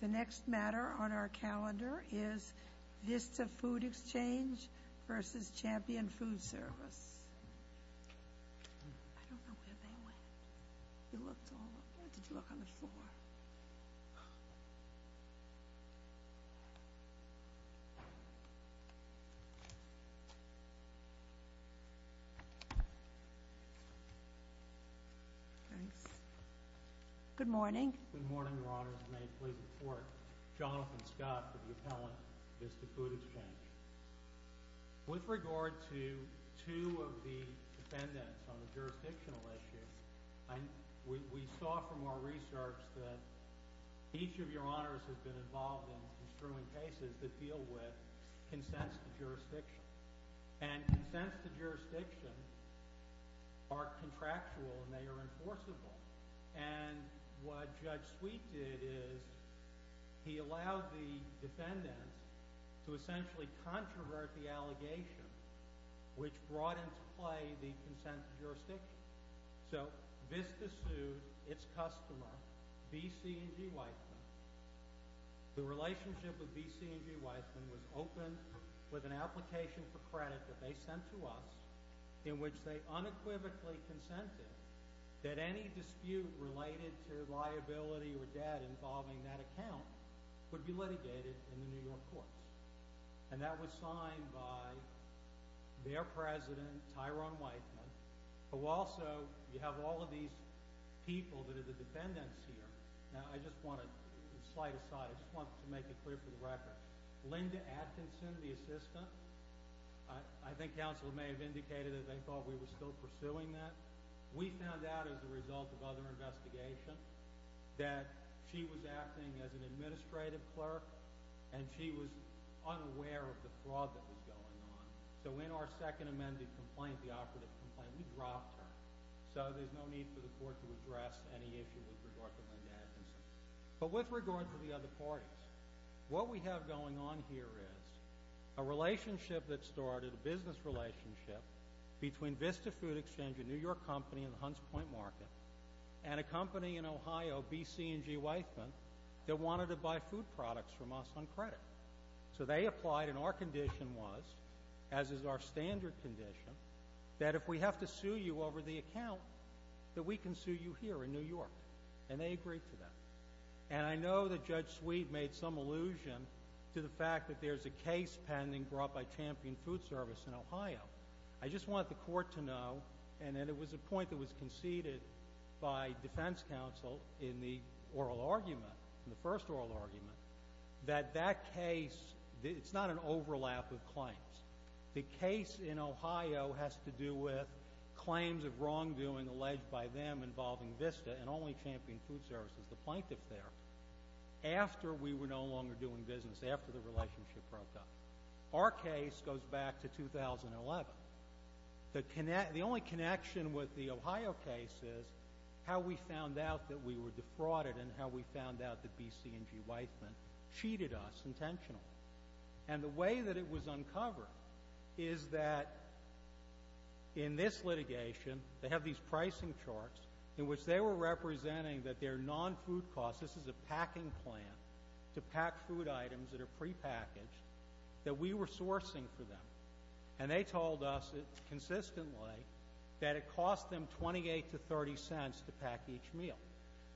The next matter on our calendar is Vista Food Exchange v. Champion Food Service. I don't know where they went. You looked all over. Where did you look? On the floor. Thanks. Good morning. Good morning, Your Honors. May I please report, Jonathan Scott for the appellant, Vista Food Exchange. With regard to two of the defendants on the jurisdictional issue, we saw from our research that each of Your Honors has been involved in construing cases that deal with consents to jurisdiction. And consents to jurisdiction are contractual and they are enforceable. And what Judge Sweet did is he allowed the defendants to essentially controvert the allegation, which brought into play the consent to jurisdiction. So Vista sued its customer, B.C. & G. Weissman. The relationship with B.C. & G. Weissman was open with an application for credit that they sent to us in which they unequivocally consented that any dispute related to liability or debt involving that account would be litigated in the New York courts. And that was signed by their president, Tyrone Weissman, who also, you have all of these people that are the defendants here. Now, I just want to slide aside. I just want to make it clear for the record. Linda Atkinson, the assistant, I think counsel may have indicated that they thought we were still pursuing that. We found out as a result of other investigation that she was acting as an administrative clerk and she was unaware of the fraud that was going on. So in our second amended complaint, the operative complaint, we dropped her. So there's no need for the court to address any issue with regard to Linda Atkinson. But with regard to the other parties, what we have going on here is a relationship that started, a business relationship between Vista Food Exchange, a New York company in the Hunts Point Market, and a company in Ohio, B.C. & G. Weissman, that wanted to buy food products from us on credit. So they applied, and our condition was, as is our standard condition, that if we have to sue you over the account, that we can sue you here in New York. And they agreed to that. And I know that Judge Sweet made some allusion to the fact that there's a case pending brought by Champion Food Service in Ohio. I just want the court to know, and it was a point that was conceded by defense counsel in the oral argument, in the first oral argument, that that case, it's not an overlap of claims. The case in Ohio has to do with claims of wrongdoing alleged by them involving Vista and only Champion Food Service as the plaintiff there after we were no longer doing business, after the relationship broke up. Our case goes back to 2011. The only connection with the Ohio case is how we found out that we were defrauded and how we found out that B.C. & G. Weissman cheated us intentionally. And the way that it was uncovered is that in this litigation, they have these pricing charts in which they were representing that their non-food costs, this is a packing plan to pack food items that are prepackaged, that we were sourcing for them. And they told us consistently that it cost them $0.28 to $0.30 to pack each meal.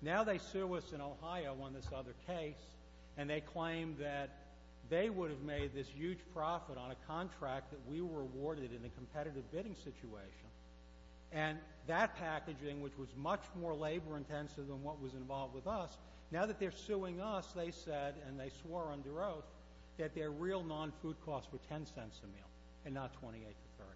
Now they sue us in Ohio on this other case, and they claim that they would have made this huge profit on a contract that we were awarded in a competitive bidding situation. And that packaging, which was much more labor intensive than what was involved with us, now that they're suing us, they said, and they swore under oath, that their real non-food costs were $0.10 a meal and not $0.28 to $0.30.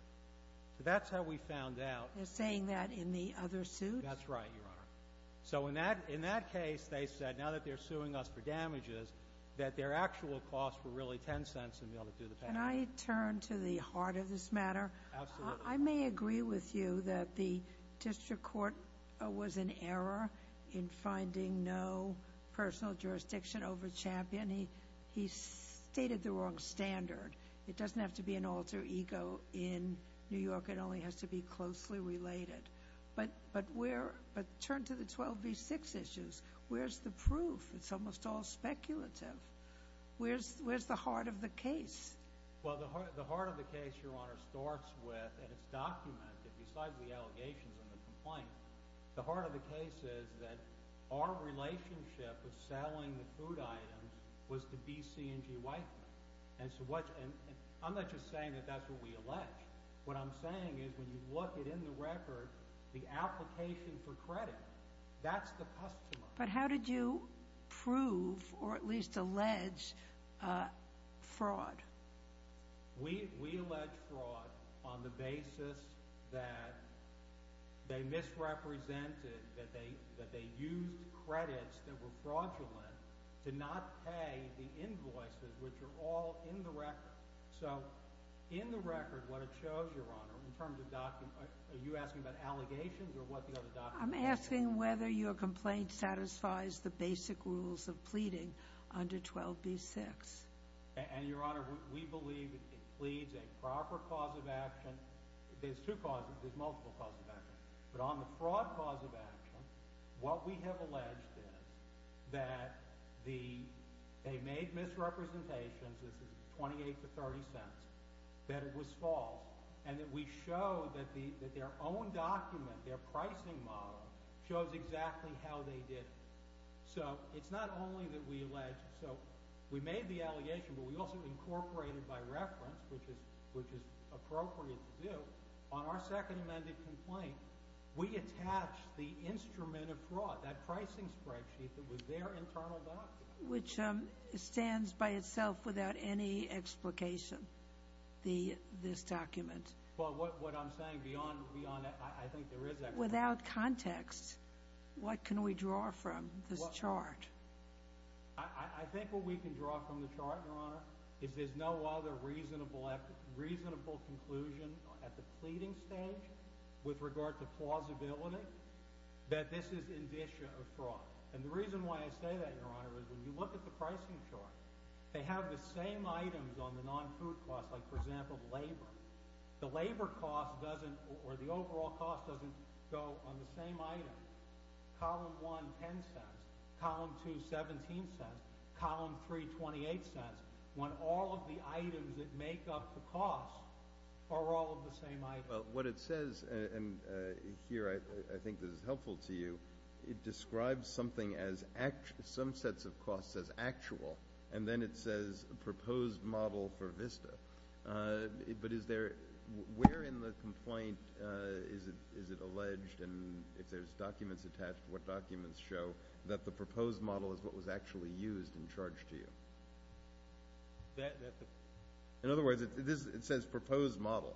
So that's how we found out. They're saying that in the other suit? That's right, Your Honor. So in that case, they said, now that they're suing us for damages, that their actual costs were really $0.10 a meal to do the packing. Can I turn to the heart of this matter? Absolutely. I may agree with you that the district court was in error in finding no personal jurisdiction over Champion. He stated the wrong standard. It doesn't have to be an alter ego in New York. It only has to be closely related. But turn to the 12 v. 6 issues. Where's the proof? It's almost all speculative. Where's the heart of the case? Well, the heart of the case, Your Honor, starts with, and it's documented, besides the allegations and the complaint, the heart of the case is that our relationship with selling the food items was to be C&G Weidman. And I'm not just saying that that's what we allege. What I'm saying is when you look at, in the record, the application for credit, that's the customer. But how did you prove or at least allege fraud? We allege fraud on the basis that they misrepresented, that they used credits that were fraudulent to not pay the invoices, which are all in the record. So in the record, what it shows, Your Honor, in terms of documents, are you asking about allegations or what the other documents are? I'm asking whether your complaint satisfies the basic rules of pleading under 12 v. 6. And, Your Honor, we believe it pleads a proper cause of action. There's two causes. There's multiple causes of action. But on the fraud cause of action, what we have alleged is that they made misrepresentations. This is $0.28 to $0.30, that it was false, and that we show that their own document, their pricing model, shows exactly how they did it. So it's not only that we allege. So we made the allegation, but we also incorporated by reference, which is appropriate to do, on our second amended complaint. We attached the instrument of fraud, that pricing spreadsheet that was their internal document. Which stands by itself without any explication, this document. Well, what I'm saying beyond that, I think there is explanation. Without context, what can we draw from this chart? I think what we can draw from the chart, Your Honor, is there's no other reasonable conclusion at the pleading stage with regard to plausibility that this is indicia of fraud. And the reason why I say that, Your Honor, is when you look at the pricing chart, they have the same items on the non-food cost, like, for example, labor. The labor cost doesn't, or the overall cost doesn't go on the same item. Column 1, $0.10. Column 2, $0.17. Column 3, $0.28. When all of the items that make up the cost are all of the same item. Well, what it says, and here I think this is helpful to you, it describes something as some sets of costs as actual. And then it says proposed model for VISTA. But is there, where in the complaint is it alleged, and if there's documents attached, what documents show that the proposed model is what was actually used in charge to you? In other words, it says proposed model.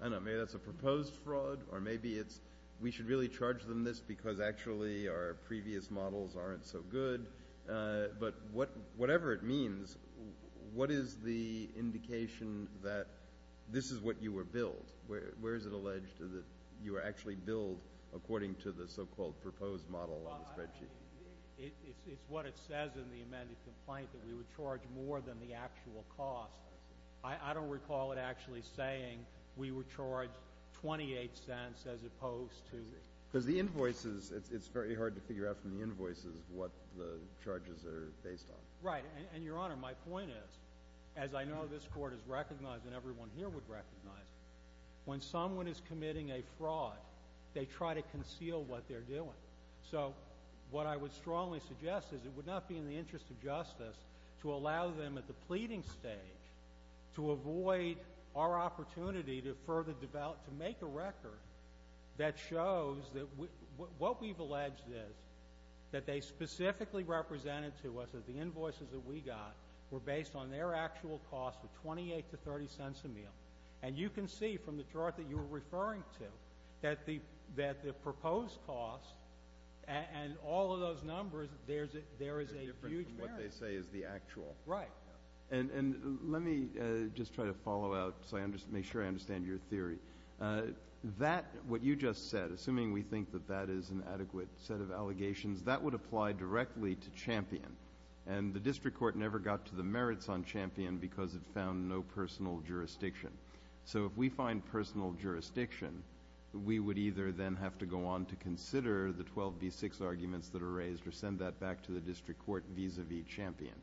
I don't know, maybe that's a proposed fraud, or maybe it's we should really charge them this because actually our previous models aren't so good. But whatever it means, what is the indication that this is what you were billed? Where is it alleged that you were actually billed according to the so-called proposed model on the spreadsheet? It's what it says in the amended complaint, that we would charge more than the actual cost. I don't recall it actually saying we would charge $0.28 as opposed to. Because the invoices, it's very hard to figure out from the invoices what the charges are based on. Right. And, Your Honor, my point is, as I know this Court has recognized and everyone here would recognize, when someone is committing a fraud, they try to conceal what they're doing. So what I would strongly suggest is it would not be in the interest of justice to allow them at the pleading stage to avoid our opportunity to further develop, to make a record that shows that what we've alleged is that they specifically represented to us that the invoices that we got were based on their actual cost of $0.28 to $0.30 a meal. And you can see from the chart that you were referring to that the proposed cost and all of those numbers, there is a huge difference. What they say is the actual. Right. And let me just try to follow out so I make sure I understand your theory. That, what you just said, assuming we think that that is an adequate set of allegations, that would apply directly to Champion. And the District Court never got to the merits on Champion because it found no personal jurisdiction. So if we find personal jurisdiction, we would either then have to go on to consider the 12B6 arguments that are raised or send that back to the District Court vis-a-vis Champion.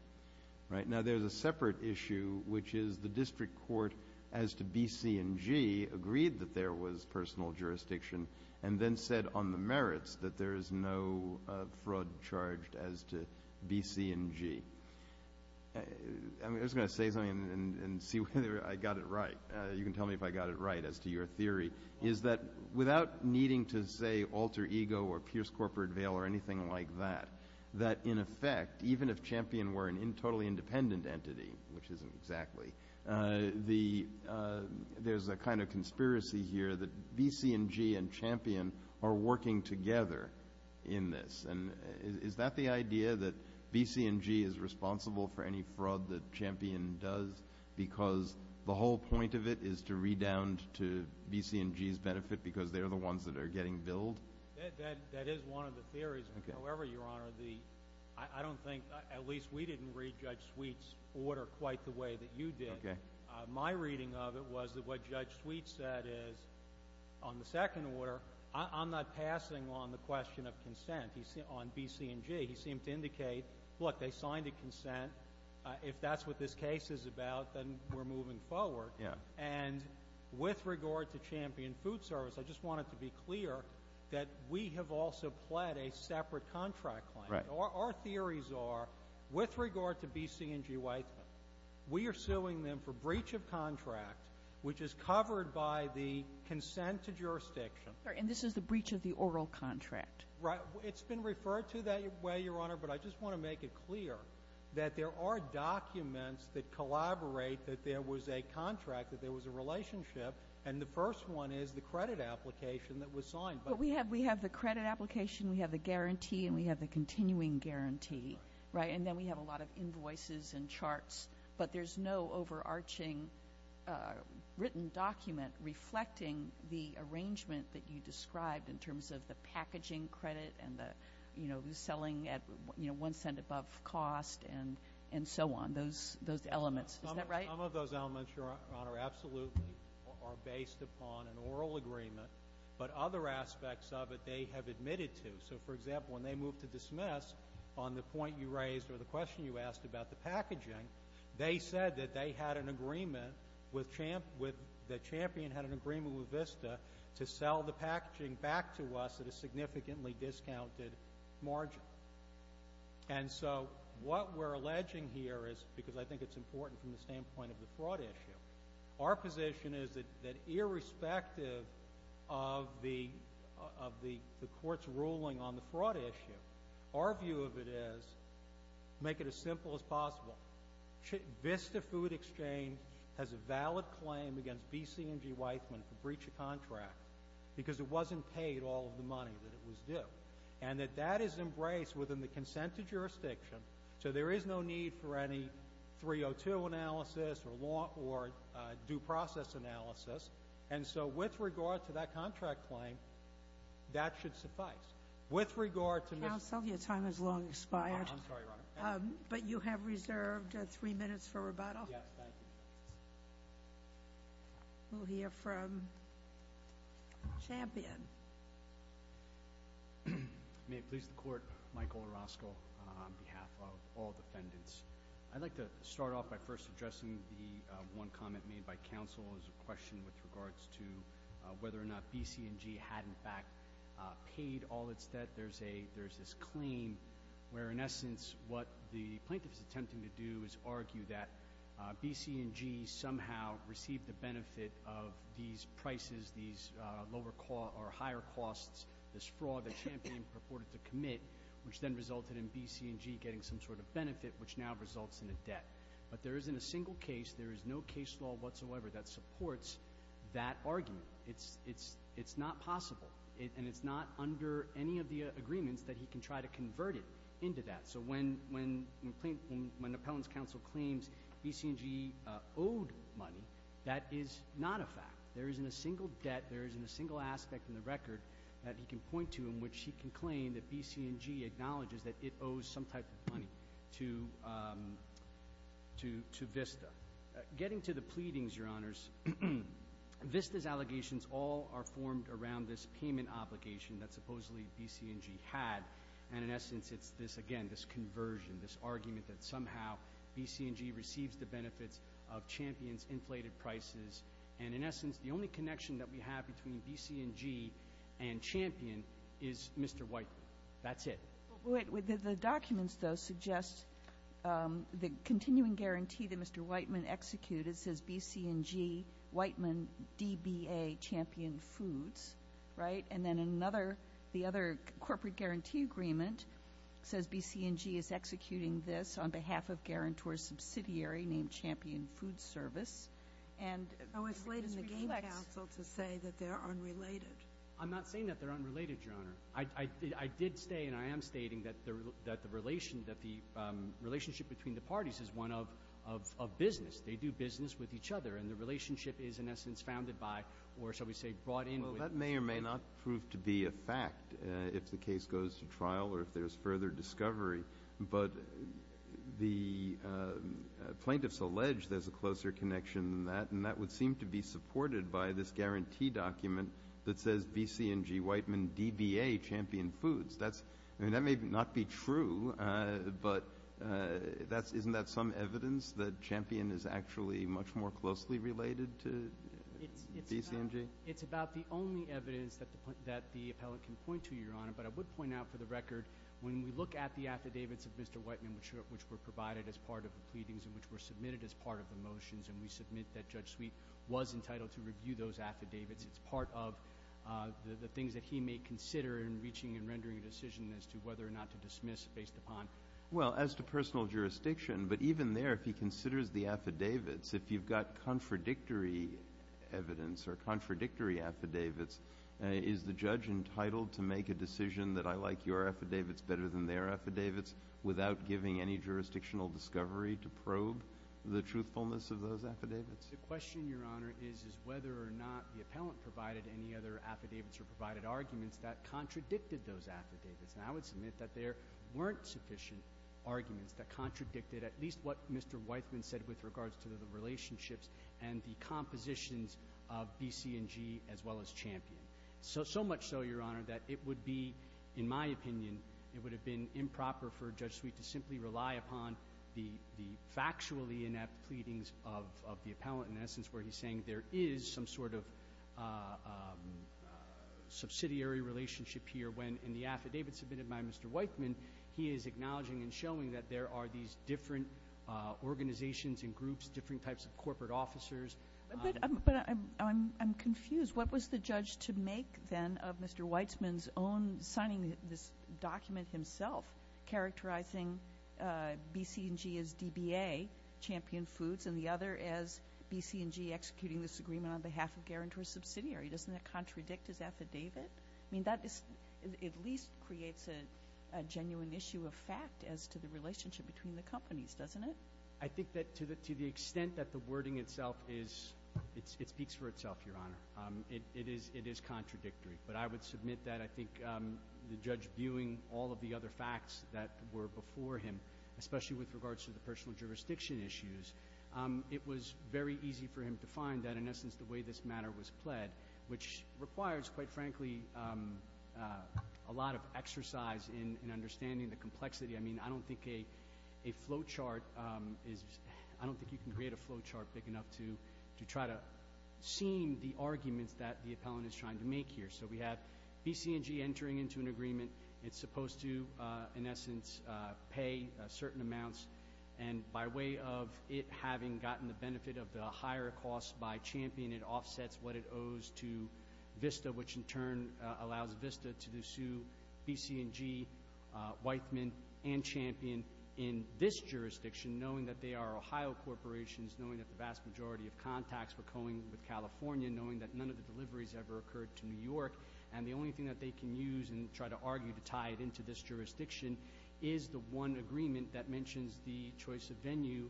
Right. Now, there's a separate issue, which is the District Court, as to B, C, and G, agreed that there was personal jurisdiction and then said on the merits that there is no fraud charged as to B, C, and G. I'm just going to say something and see whether I got it right. You can tell me if I got it right as to your theory, is that without needing to say alter ego or pierce corporate veil or anything like that, that in effect, even if Champion were a totally independent entity, which isn't exactly, there's a kind of conspiracy here that B, C, and G and Champion are working together in this. And is that the idea that B, C, and G is responsible for any fraud that Champion does because the whole point of it is to redound to B, C, and G's benefit because they're the ones that are getting billed? That is one of the theories. However, Your Honor, I don't think, at least we didn't read Judge Sweet's order quite the way that you did. My reading of it was that what Judge Sweet said is on the second order, I'm not passing on the question of consent on B, C, and G. He seemed to indicate, look, they signed a consent. If that's what this case is about, then we're moving forward. And with regard to Champion Food Service, I just wanted to be clear that we have also pled a separate contract claim. Our theories are, with regard to B, C, and G Weitzman, we are suing them for breach of contract, which is covered by the consent to jurisdiction. And this is the breach of the oral contract. Right. It's been referred to that way, Your Honor, but I just want to make it clear that there are documents that collaborate that there was a contract, that there was a relationship, and the first one is the credit application that was signed. But we have the credit application, we have the guarantee, and we have the continuing guarantee, right? And then we have a lot of invoices and charts, but there's no overarching written document reflecting the arrangement that you described in terms of the packaging credit and the selling at one cent above cost and so on, those elements. Is that right? Some of those elements, Your Honor, absolutely are based upon an oral agreement, but other aspects of it they have admitted to. So, for example, when they moved to dismiss on the point you raised or the question you asked about the packaging, they said that they had an agreement with the champion had an agreement with VISTA to sell the packaging back to us at a significantly discounted margin. And so what we're alleging here is, because I think it's important from the standpoint of the fraud issue, our position is that irrespective of the court's ruling on the fraud issue, our view of it is make it as simple as possible. VISTA Food Exchange has a valid claim against B.C. and G. Weisman for breach of contract because it wasn't paid all of the money that it was due, and that that is embraced within the consented jurisdiction, so there is no need for any 302 analysis or due process analysis. And so with regard to that contract claim, that should suffice. Counsel, your time has long expired. I'm sorry, Your Honor. But you have reserved three minutes for rebuttal. Yes, thank you. We'll hear from champion. May it please the Court, Michael Orozco on behalf of all defendants. I'd like to start off by first addressing the one comment made by counsel as a question with regards to whether or not B.C. and G. had, in fact, paid all its debt. There's this claim where, in essence, what the plaintiff is attempting to do is argue that B.C. and G. somehow received the benefit of these prices, these higher costs, this fraud that champion purported to commit, which then resulted in B.C. and G. getting some sort of benefit, which now results in a debt. But there isn't a single case, there is no case law whatsoever that supports that argument. It's not possible, and it's not under any of the agreements that he can try to convert it into that. So when an appellant's counsel claims B.C. and G. owed money, that is not a fact. There isn't a single debt, there isn't a single aspect in the record that he can point to in which he can claim that B.C. and G. acknowledges that it owes some type of money to VISTA. Getting to the pleadings, Your Honors, VISTA's allegations all are formed around this payment obligation that supposedly B.C. and G. had, and in essence, it's this, again, this conversion, this argument that somehow B.C. and G. receives the benefits of Champion's inflated prices. And in essence, the only connection that we have between B.C. and G. and Champion is Mr. Whiteman. That's it. The documents, though, suggest the continuing guarantee that Mr. Whiteman executed says B.C. and G., Whiteman, DBA, Champion Foods, right? And then the other corporate guarantee agreement says B.C. and G. is executing this on behalf of Guarantor's subsidiary named Champion Food Service. Oh, it's late in the game, counsel, to say that they're unrelated. I did say and I am stating that the relationship between the parties is one of business. They do business with each other, and the relationship is, in essence, founded by or, shall we say, brought in. Well, that may or may not prove to be a fact if the case goes to trial or if there's further discovery. But the plaintiffs allege there's a closer connection than that, and that would seem to be supported by this guarantee document that says B.C. and G., Whiteman, DBA, Champion Foods. That may not be true, but isn't that some evidence that Champion is actually much more closely related to B.C. and G.? It's about the only evidence that the appellant can point to, Your Honor, but I would point out for the record when we look at the affidavits of Mr. Whiteman, which were provided as part of the pleadings and which were submitted as part of the motions and we submit that Judge Sweet was entitled to review those affidavits, it's part of the things that he may consider in reaching and rendering a decision as to whether or not to dismiss based upon. Well, as to personal jurisdiction, but even there, if he considers the affidavits, if you've got contradictory evidence or contradictory affidavits, is the judge entitled to make a decision that I like your affidavits better than their affidavits without giving any jurisdictional discovery to probe the truthfulness of those affidavits? The question, Your Honor, is whether or not the appellant provided any other affidavits or provided arguments that contradicted those affidavits. And I would submit that there weren't sufficient arguments that contradicted at least what Mr. Whiteman said with regards to the relationships and the compositions of B.C. and G. as well as Champion. So much so, Your Honor, that it would be, in my opinion, it would have been improper for Judge Sweet to simply rely upon the factually inept pleadings of the appellant in essence where he's saying there is some sort of subsidiary relationship here when in the affidavit submitted by Mr. Whiteman, he is acknowledging and showing that there are these different organizations and groups, different types of corporate officers. But I'm confused. What was the judge to make, then, of Mr. Whiteman's own signing this document himself characterizing B.C. and G. as DBA, Champion Foods, and the other as B.C. and G. executing this agreement on behalf of Guerin to a subsidiary? Doesn't that contradict his affidavit? I mean, that at least creates a genuine issue of fact as to the relationship between the companies, doesn't it? I think that to the extent that the wording itself is, it speaks for itself, Your Honor. It is contradictory. But I would submit that I think the judge viewing all of the other facts that were before him, especially with regards to the personal jurisdiction issues, it was very easy for him to find that in essence the way this matter was pled, which requires, quite frankly, a lot of exercise in understanding the complexity. I mean, I don't think you can create a flow chart big enough to try to seem the arguments that the appellant is trying to make here. So we have B.C. and G. entering into an agreement. It's supposed to, in essence, pay certain amounts. And by way of it having gotten the benefit of the higher cost by Champion, it offsets what it owes to Vista, which in turn allows Vista to sue B.C. and G., Weithman, and Champion in this jurisdiction, knowing that they are Ohio corporations, knowing that the vast majority of contacts were going with California, knowing that none of the deliveries ever occurred to New York. And the only thing that they can use and try to argue to tie it into this jurisdiction is the one agreement that mentions the choice of venue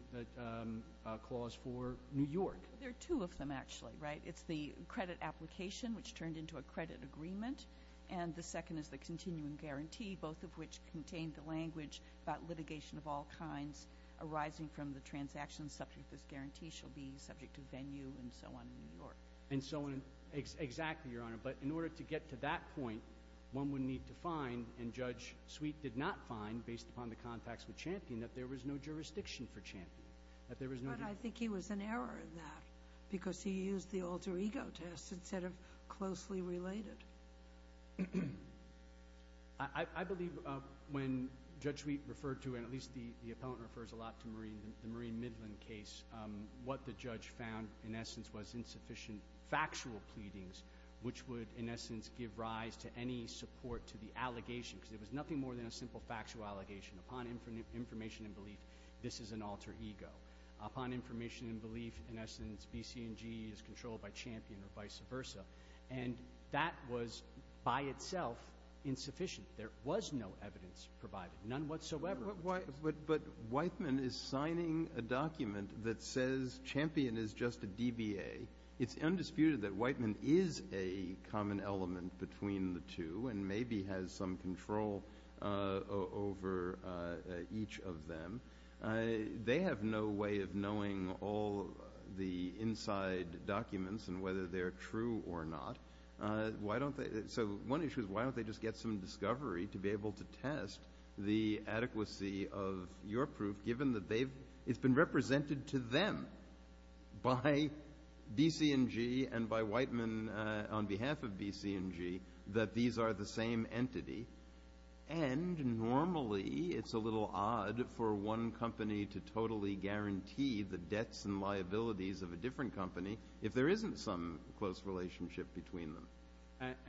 clause for New York. There are two of them, actually, right? It's the credit application, which turned into a credit agreement, and the second is the continuum guarantee, both of which contain the language about litigation of all kinds arising from the transaction subject to this guarantee shall be subject to venue and so on in New York. And so on exactly, Your Honor. But in order to get to that point, one would need to find, and Judge Sweet did not find, based upon the contacts with Champion, that there was no jurisdiction for Champion. But I think he was in error in that because he used the alter ego test instead of closely related. I believe when Judge Sweet referred to, and at least the appellant refers a lot to the Maureen Midland case, what the judge found, in essence, was insufficient factual pleadings, which would, in essence, give rise to any support to the allegation, because it was nothing more than a simple factual allegation. Upon information and belief, this is an alter ego. Upon information and belief, in essence, B, C, and G is controlled by Champion or vice versa. And that was, by itself, insufficient. There was no evidence provided, none whatsoever. But Weitman is signing a document that says Champion is just a DBA. It's undisputed that Weitman is a common element between the two and maybe has some control over each of them. They have no way of knowing all the inside documents and whether they're true or not. So one issue is why don't they just get some discovery to be able to test the adequacy of your proof, given that it's been represented to them by B, C, and G and by Weitman on behalf of B, C, and G that these are the same entity, and normally it's a little odd for one company to totally guarantee the debts and liabilities of a different company if there isn't some close relationship between them.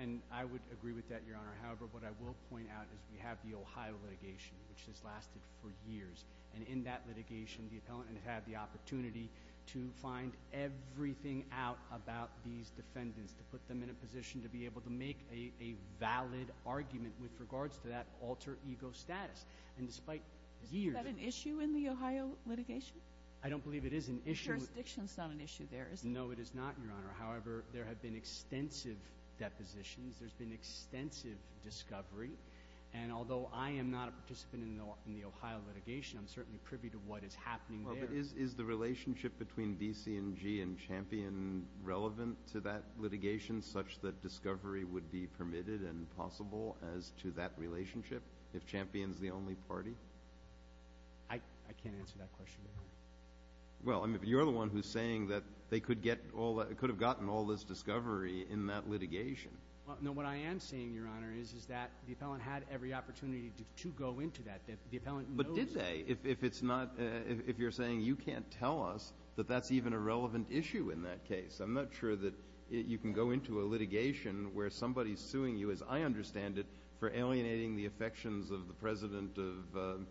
And I would agree with that, Your Honor. However, what I will point out is we have the Ohio litigation, which has lasted for years. And in that litigation, the appellant has had the opportunity to find everything out about these defendants, to put them in a position to be able to make a valid argument with regards to that alter ego status. And despite years of— Is that an issue in the Ohio litigation? I don't believe it is an issue. Jurisdiction is not an issue there, is it? No, it is not, Your Honor. However, there have been extensive depositions. There's been extensive discovery. And although I am not a participant in the Ohio litigation, I'm certainly privy to what is happening there. Well, but is the relationship between B, C, and G and Champion relevant to that litigation such that discovery would be permitted and possible as to that relationship if Champion's the only party? I can't answer that question, Your Honor. Well, you're the one who's saying that they could have gotten all this discovery in that litigation. No, what I am saying, Your Honor, is that the appellant had every opportunity to go into that. The appellant knows— But did they? If it's not—if you're saying you can't tell us that that's even a relevant issue in that case, I'm not sure that you can go into a litigation where somebody's suing you, as I understand it, for alienating the affections of the president of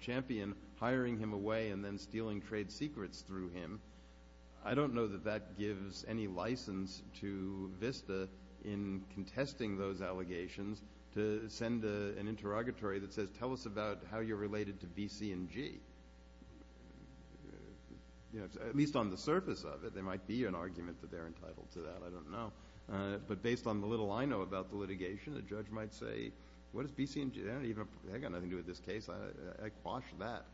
Champion, hiring him away, and then stealing trade secrets through him. I don't know that that gives any license to VISTA in contesting those allegations to send an interrogatory that says, tell us about how you're related to B, C, and G. At least on the surface of it, there might be an argument that they're entitled to that. I don't know. But based on the little I know about the litigation, a judge might say, what is B, C, and G? They've got nothing to do with this case. I quashed that.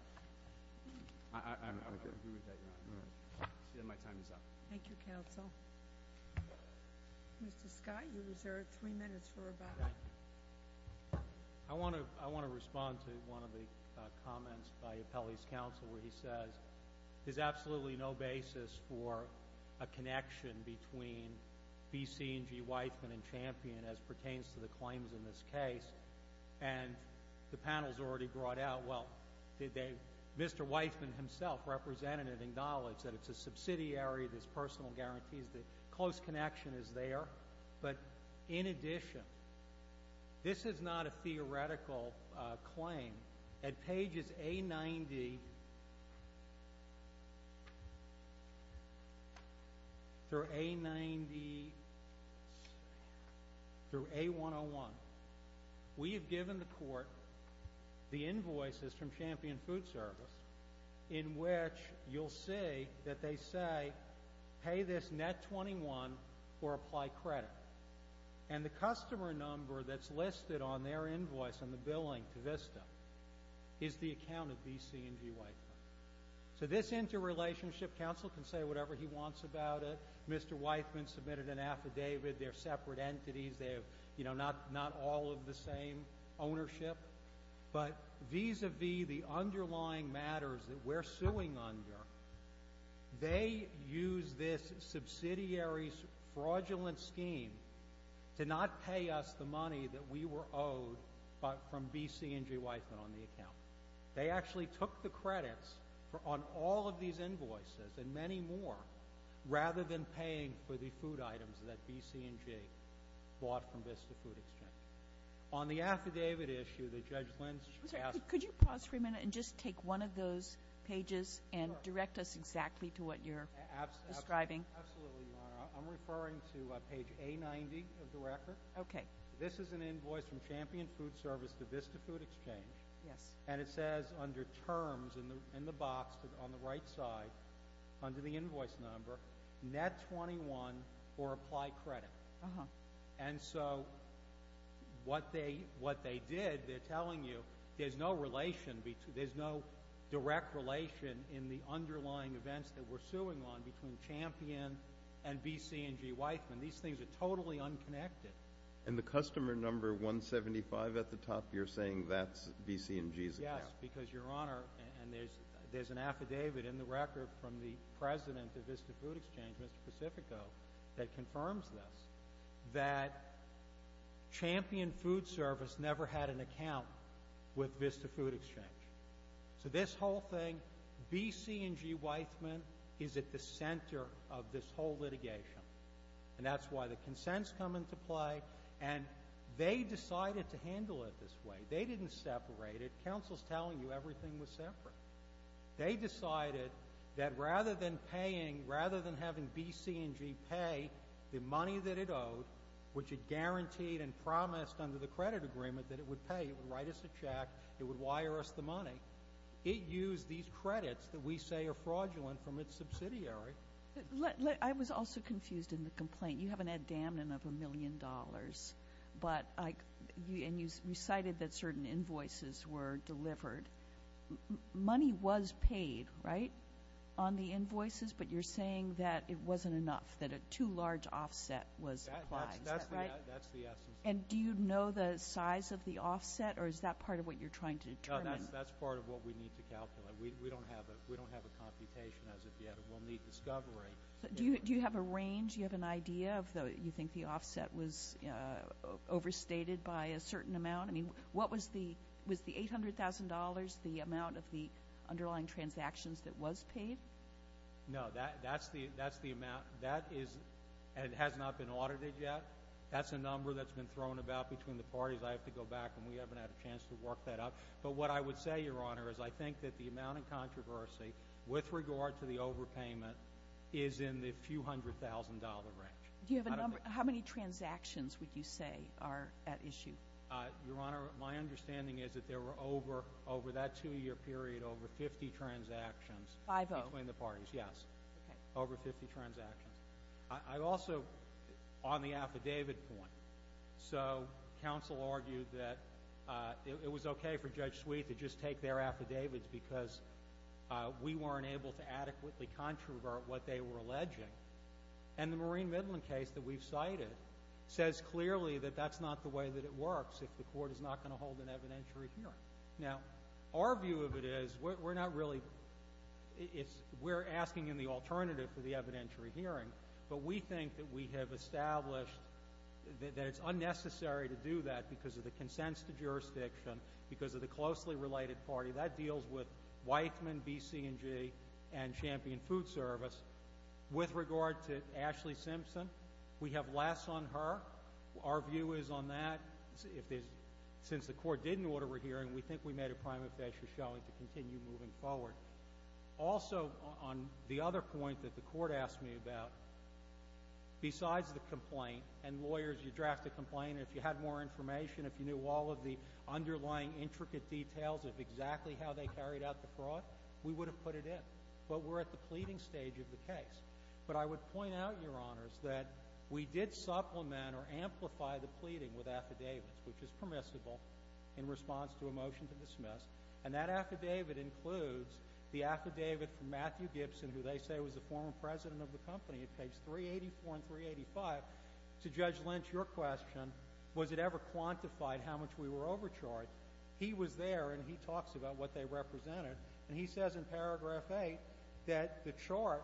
I agree with that, Your Honor. My time is up. Thank you, counsel. Mr. Scott, you're reserved three minutes for rebuttal. I want to respond to one of the comments by Appellee's counsel where he says, there's absolutely no basis for a connection between B, C, and G, Weisman, and Champion as pertains to the claims in this case. And the panel has already brought out, well, Mr. Weisman himself represented and acknowledged that it's a subsidiary, there's personal guarantees, the close connection is there. But in addition, this is not a theoretical claim. At pages A90 through A90 through A101, we have given the court the invoices from Champion Food Service in which you'll see that they say, pay this net 21 or apply credit. And the customer number that's listed on their invoice on the billing to VISTA is the account of B, C, and G, Weisman. So this interrelationship, counsel can say whatever he wants about it. Mr. Weisman submitted an affidavit. They're separate entities. They have not all of the same ownership. But vis-a-vis the underlying matters that we're suing under, they use this subsidiary's fraudulent scheme to not pay us the money that we were owed from B, C, and G, Weisman on the account. They actually took the credits on all of these invoices and many more rather than paying for the food items that B, C, and G bought from VISTA Food Exchange. On the affidavit issue that Judge Lynch asked. Could you pause for a minute and just take one of those pages and direct us exactly to what you're describing? Absolutely, Your Honor. I'm referring to page A90 of the record. Okay. This is an invoice from Champion Food Service to VISTA Food Exchange. Yes. And it says under terms in the box on the right side, under the invoice number, net 21 or apply credit. And so what they did, they're telling you there's no direct relation in the underlying events that we're suing on between Champion and B, C, and G, Weisman. These things are totally unconnected. And the customer number 175 at the top, you're saying that's B, C, and G's account? Yes, because, Your Honor, and there's an affidavit in the record from the president of VISTA Food Exchange, Mr. Pacifico, that confirms this, that Champion Food Service never had an account with VISTA Food Exchange. So this whole thing, B, C, and G, Weisman is at the center of this whole litigation. And that's why the consents come into play. And they decided to handle it this way. They didn't separate it. Counsel's telling you everything was separate. They decided that rather than paying, rather than having B, C, and G pay the money that it owed, which it guaranteed and promised under the credit agreement that it would pay, it would write us a check, it would wire us the money, it used these credits that we say are fraudulent from its subsidiary. You haven't had damning of a million dollars, and you cited that certain invoices were delivered. Money was paid, right, on the invoices, but you're saying that it wasn't enough, that a too large offset was applied. Is that right? That's the essence of it. And do you know the size of the offset, or is that part of what you're trying to determine? No, that's part of what we need to calculate. We don't have a computation as of yet, and we'll need discovery. Do you have a range? Do you have an idea of you think the offset was overstated by a certain amount? I mean, was the $800,000 the amount of the underlying transactions that was paid? No, that's the amount. That is, and it has not been audited yet. That's a number that's been thrown about between the parties. I have to go back, and we haven't had a chance to work that out. But what I would say, Your Honor, is I think that the amount in controversy with regard to the overpayment is in the few hundred thousand dollar range. Do you have a number? How many transactions would you say are at issue? Your Honor, my understanding is that there were over that two-year period over 50 transactions. Five-oh. Between the parties, yes. Okay. Over 50 transactions. I also, on the affidavit point, so counsel argued that it was okay for Judge Sweet to just take their affidavits because we weren't able to adequately controvert what they were alleging. And the Maureen Midland case that we've cited says clearly that that's not the way that it works if the court is not going to hold an evidentiary hearing. Now, our view of it is we're not really we're asking in the alternative for the evidentiary hearing, but we think that we have established that it's unnecessary to do that because of the consents to jurisdiction, because of the closely related party. That deals with Weizmann, BC&G, and Champion Food Service. With regard to Ashley Simpson, we have less on her. Our view is on that. Since the court didn't order a hearing, we think we made a prima facie showing to continue moving forward. Also, on the other point that the court asked me about, besides the complaint and lawyers, you draft a complaint and if you had more information, if you knew all of the underlying intricate details of exactly how they carried out the fraud, we would have put it in. But we're at the pleading stage of the case. But I would point out, Your Honors, that we did supplement or amplify the pleading with affidavits, which is permissible in response to a motion to dismiss, and that affidavit includes the affidavit from Matthew Gibson, who they say was the former president of the company at page 384 and 385, to Judge Lynch. Your question, was it ever quantified how much we were overcharged? He was there and he talks about what they represented, and he says in paragraph 8 that the chart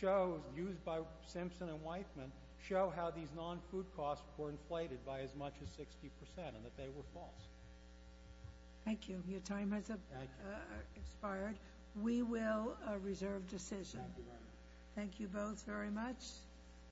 shows, used by Simpson and Weitman, show how these non-food costs were inflated by as much as 60% and that they were false. Thank you. Your time has expired. We will reserve decision. Thank you both very much.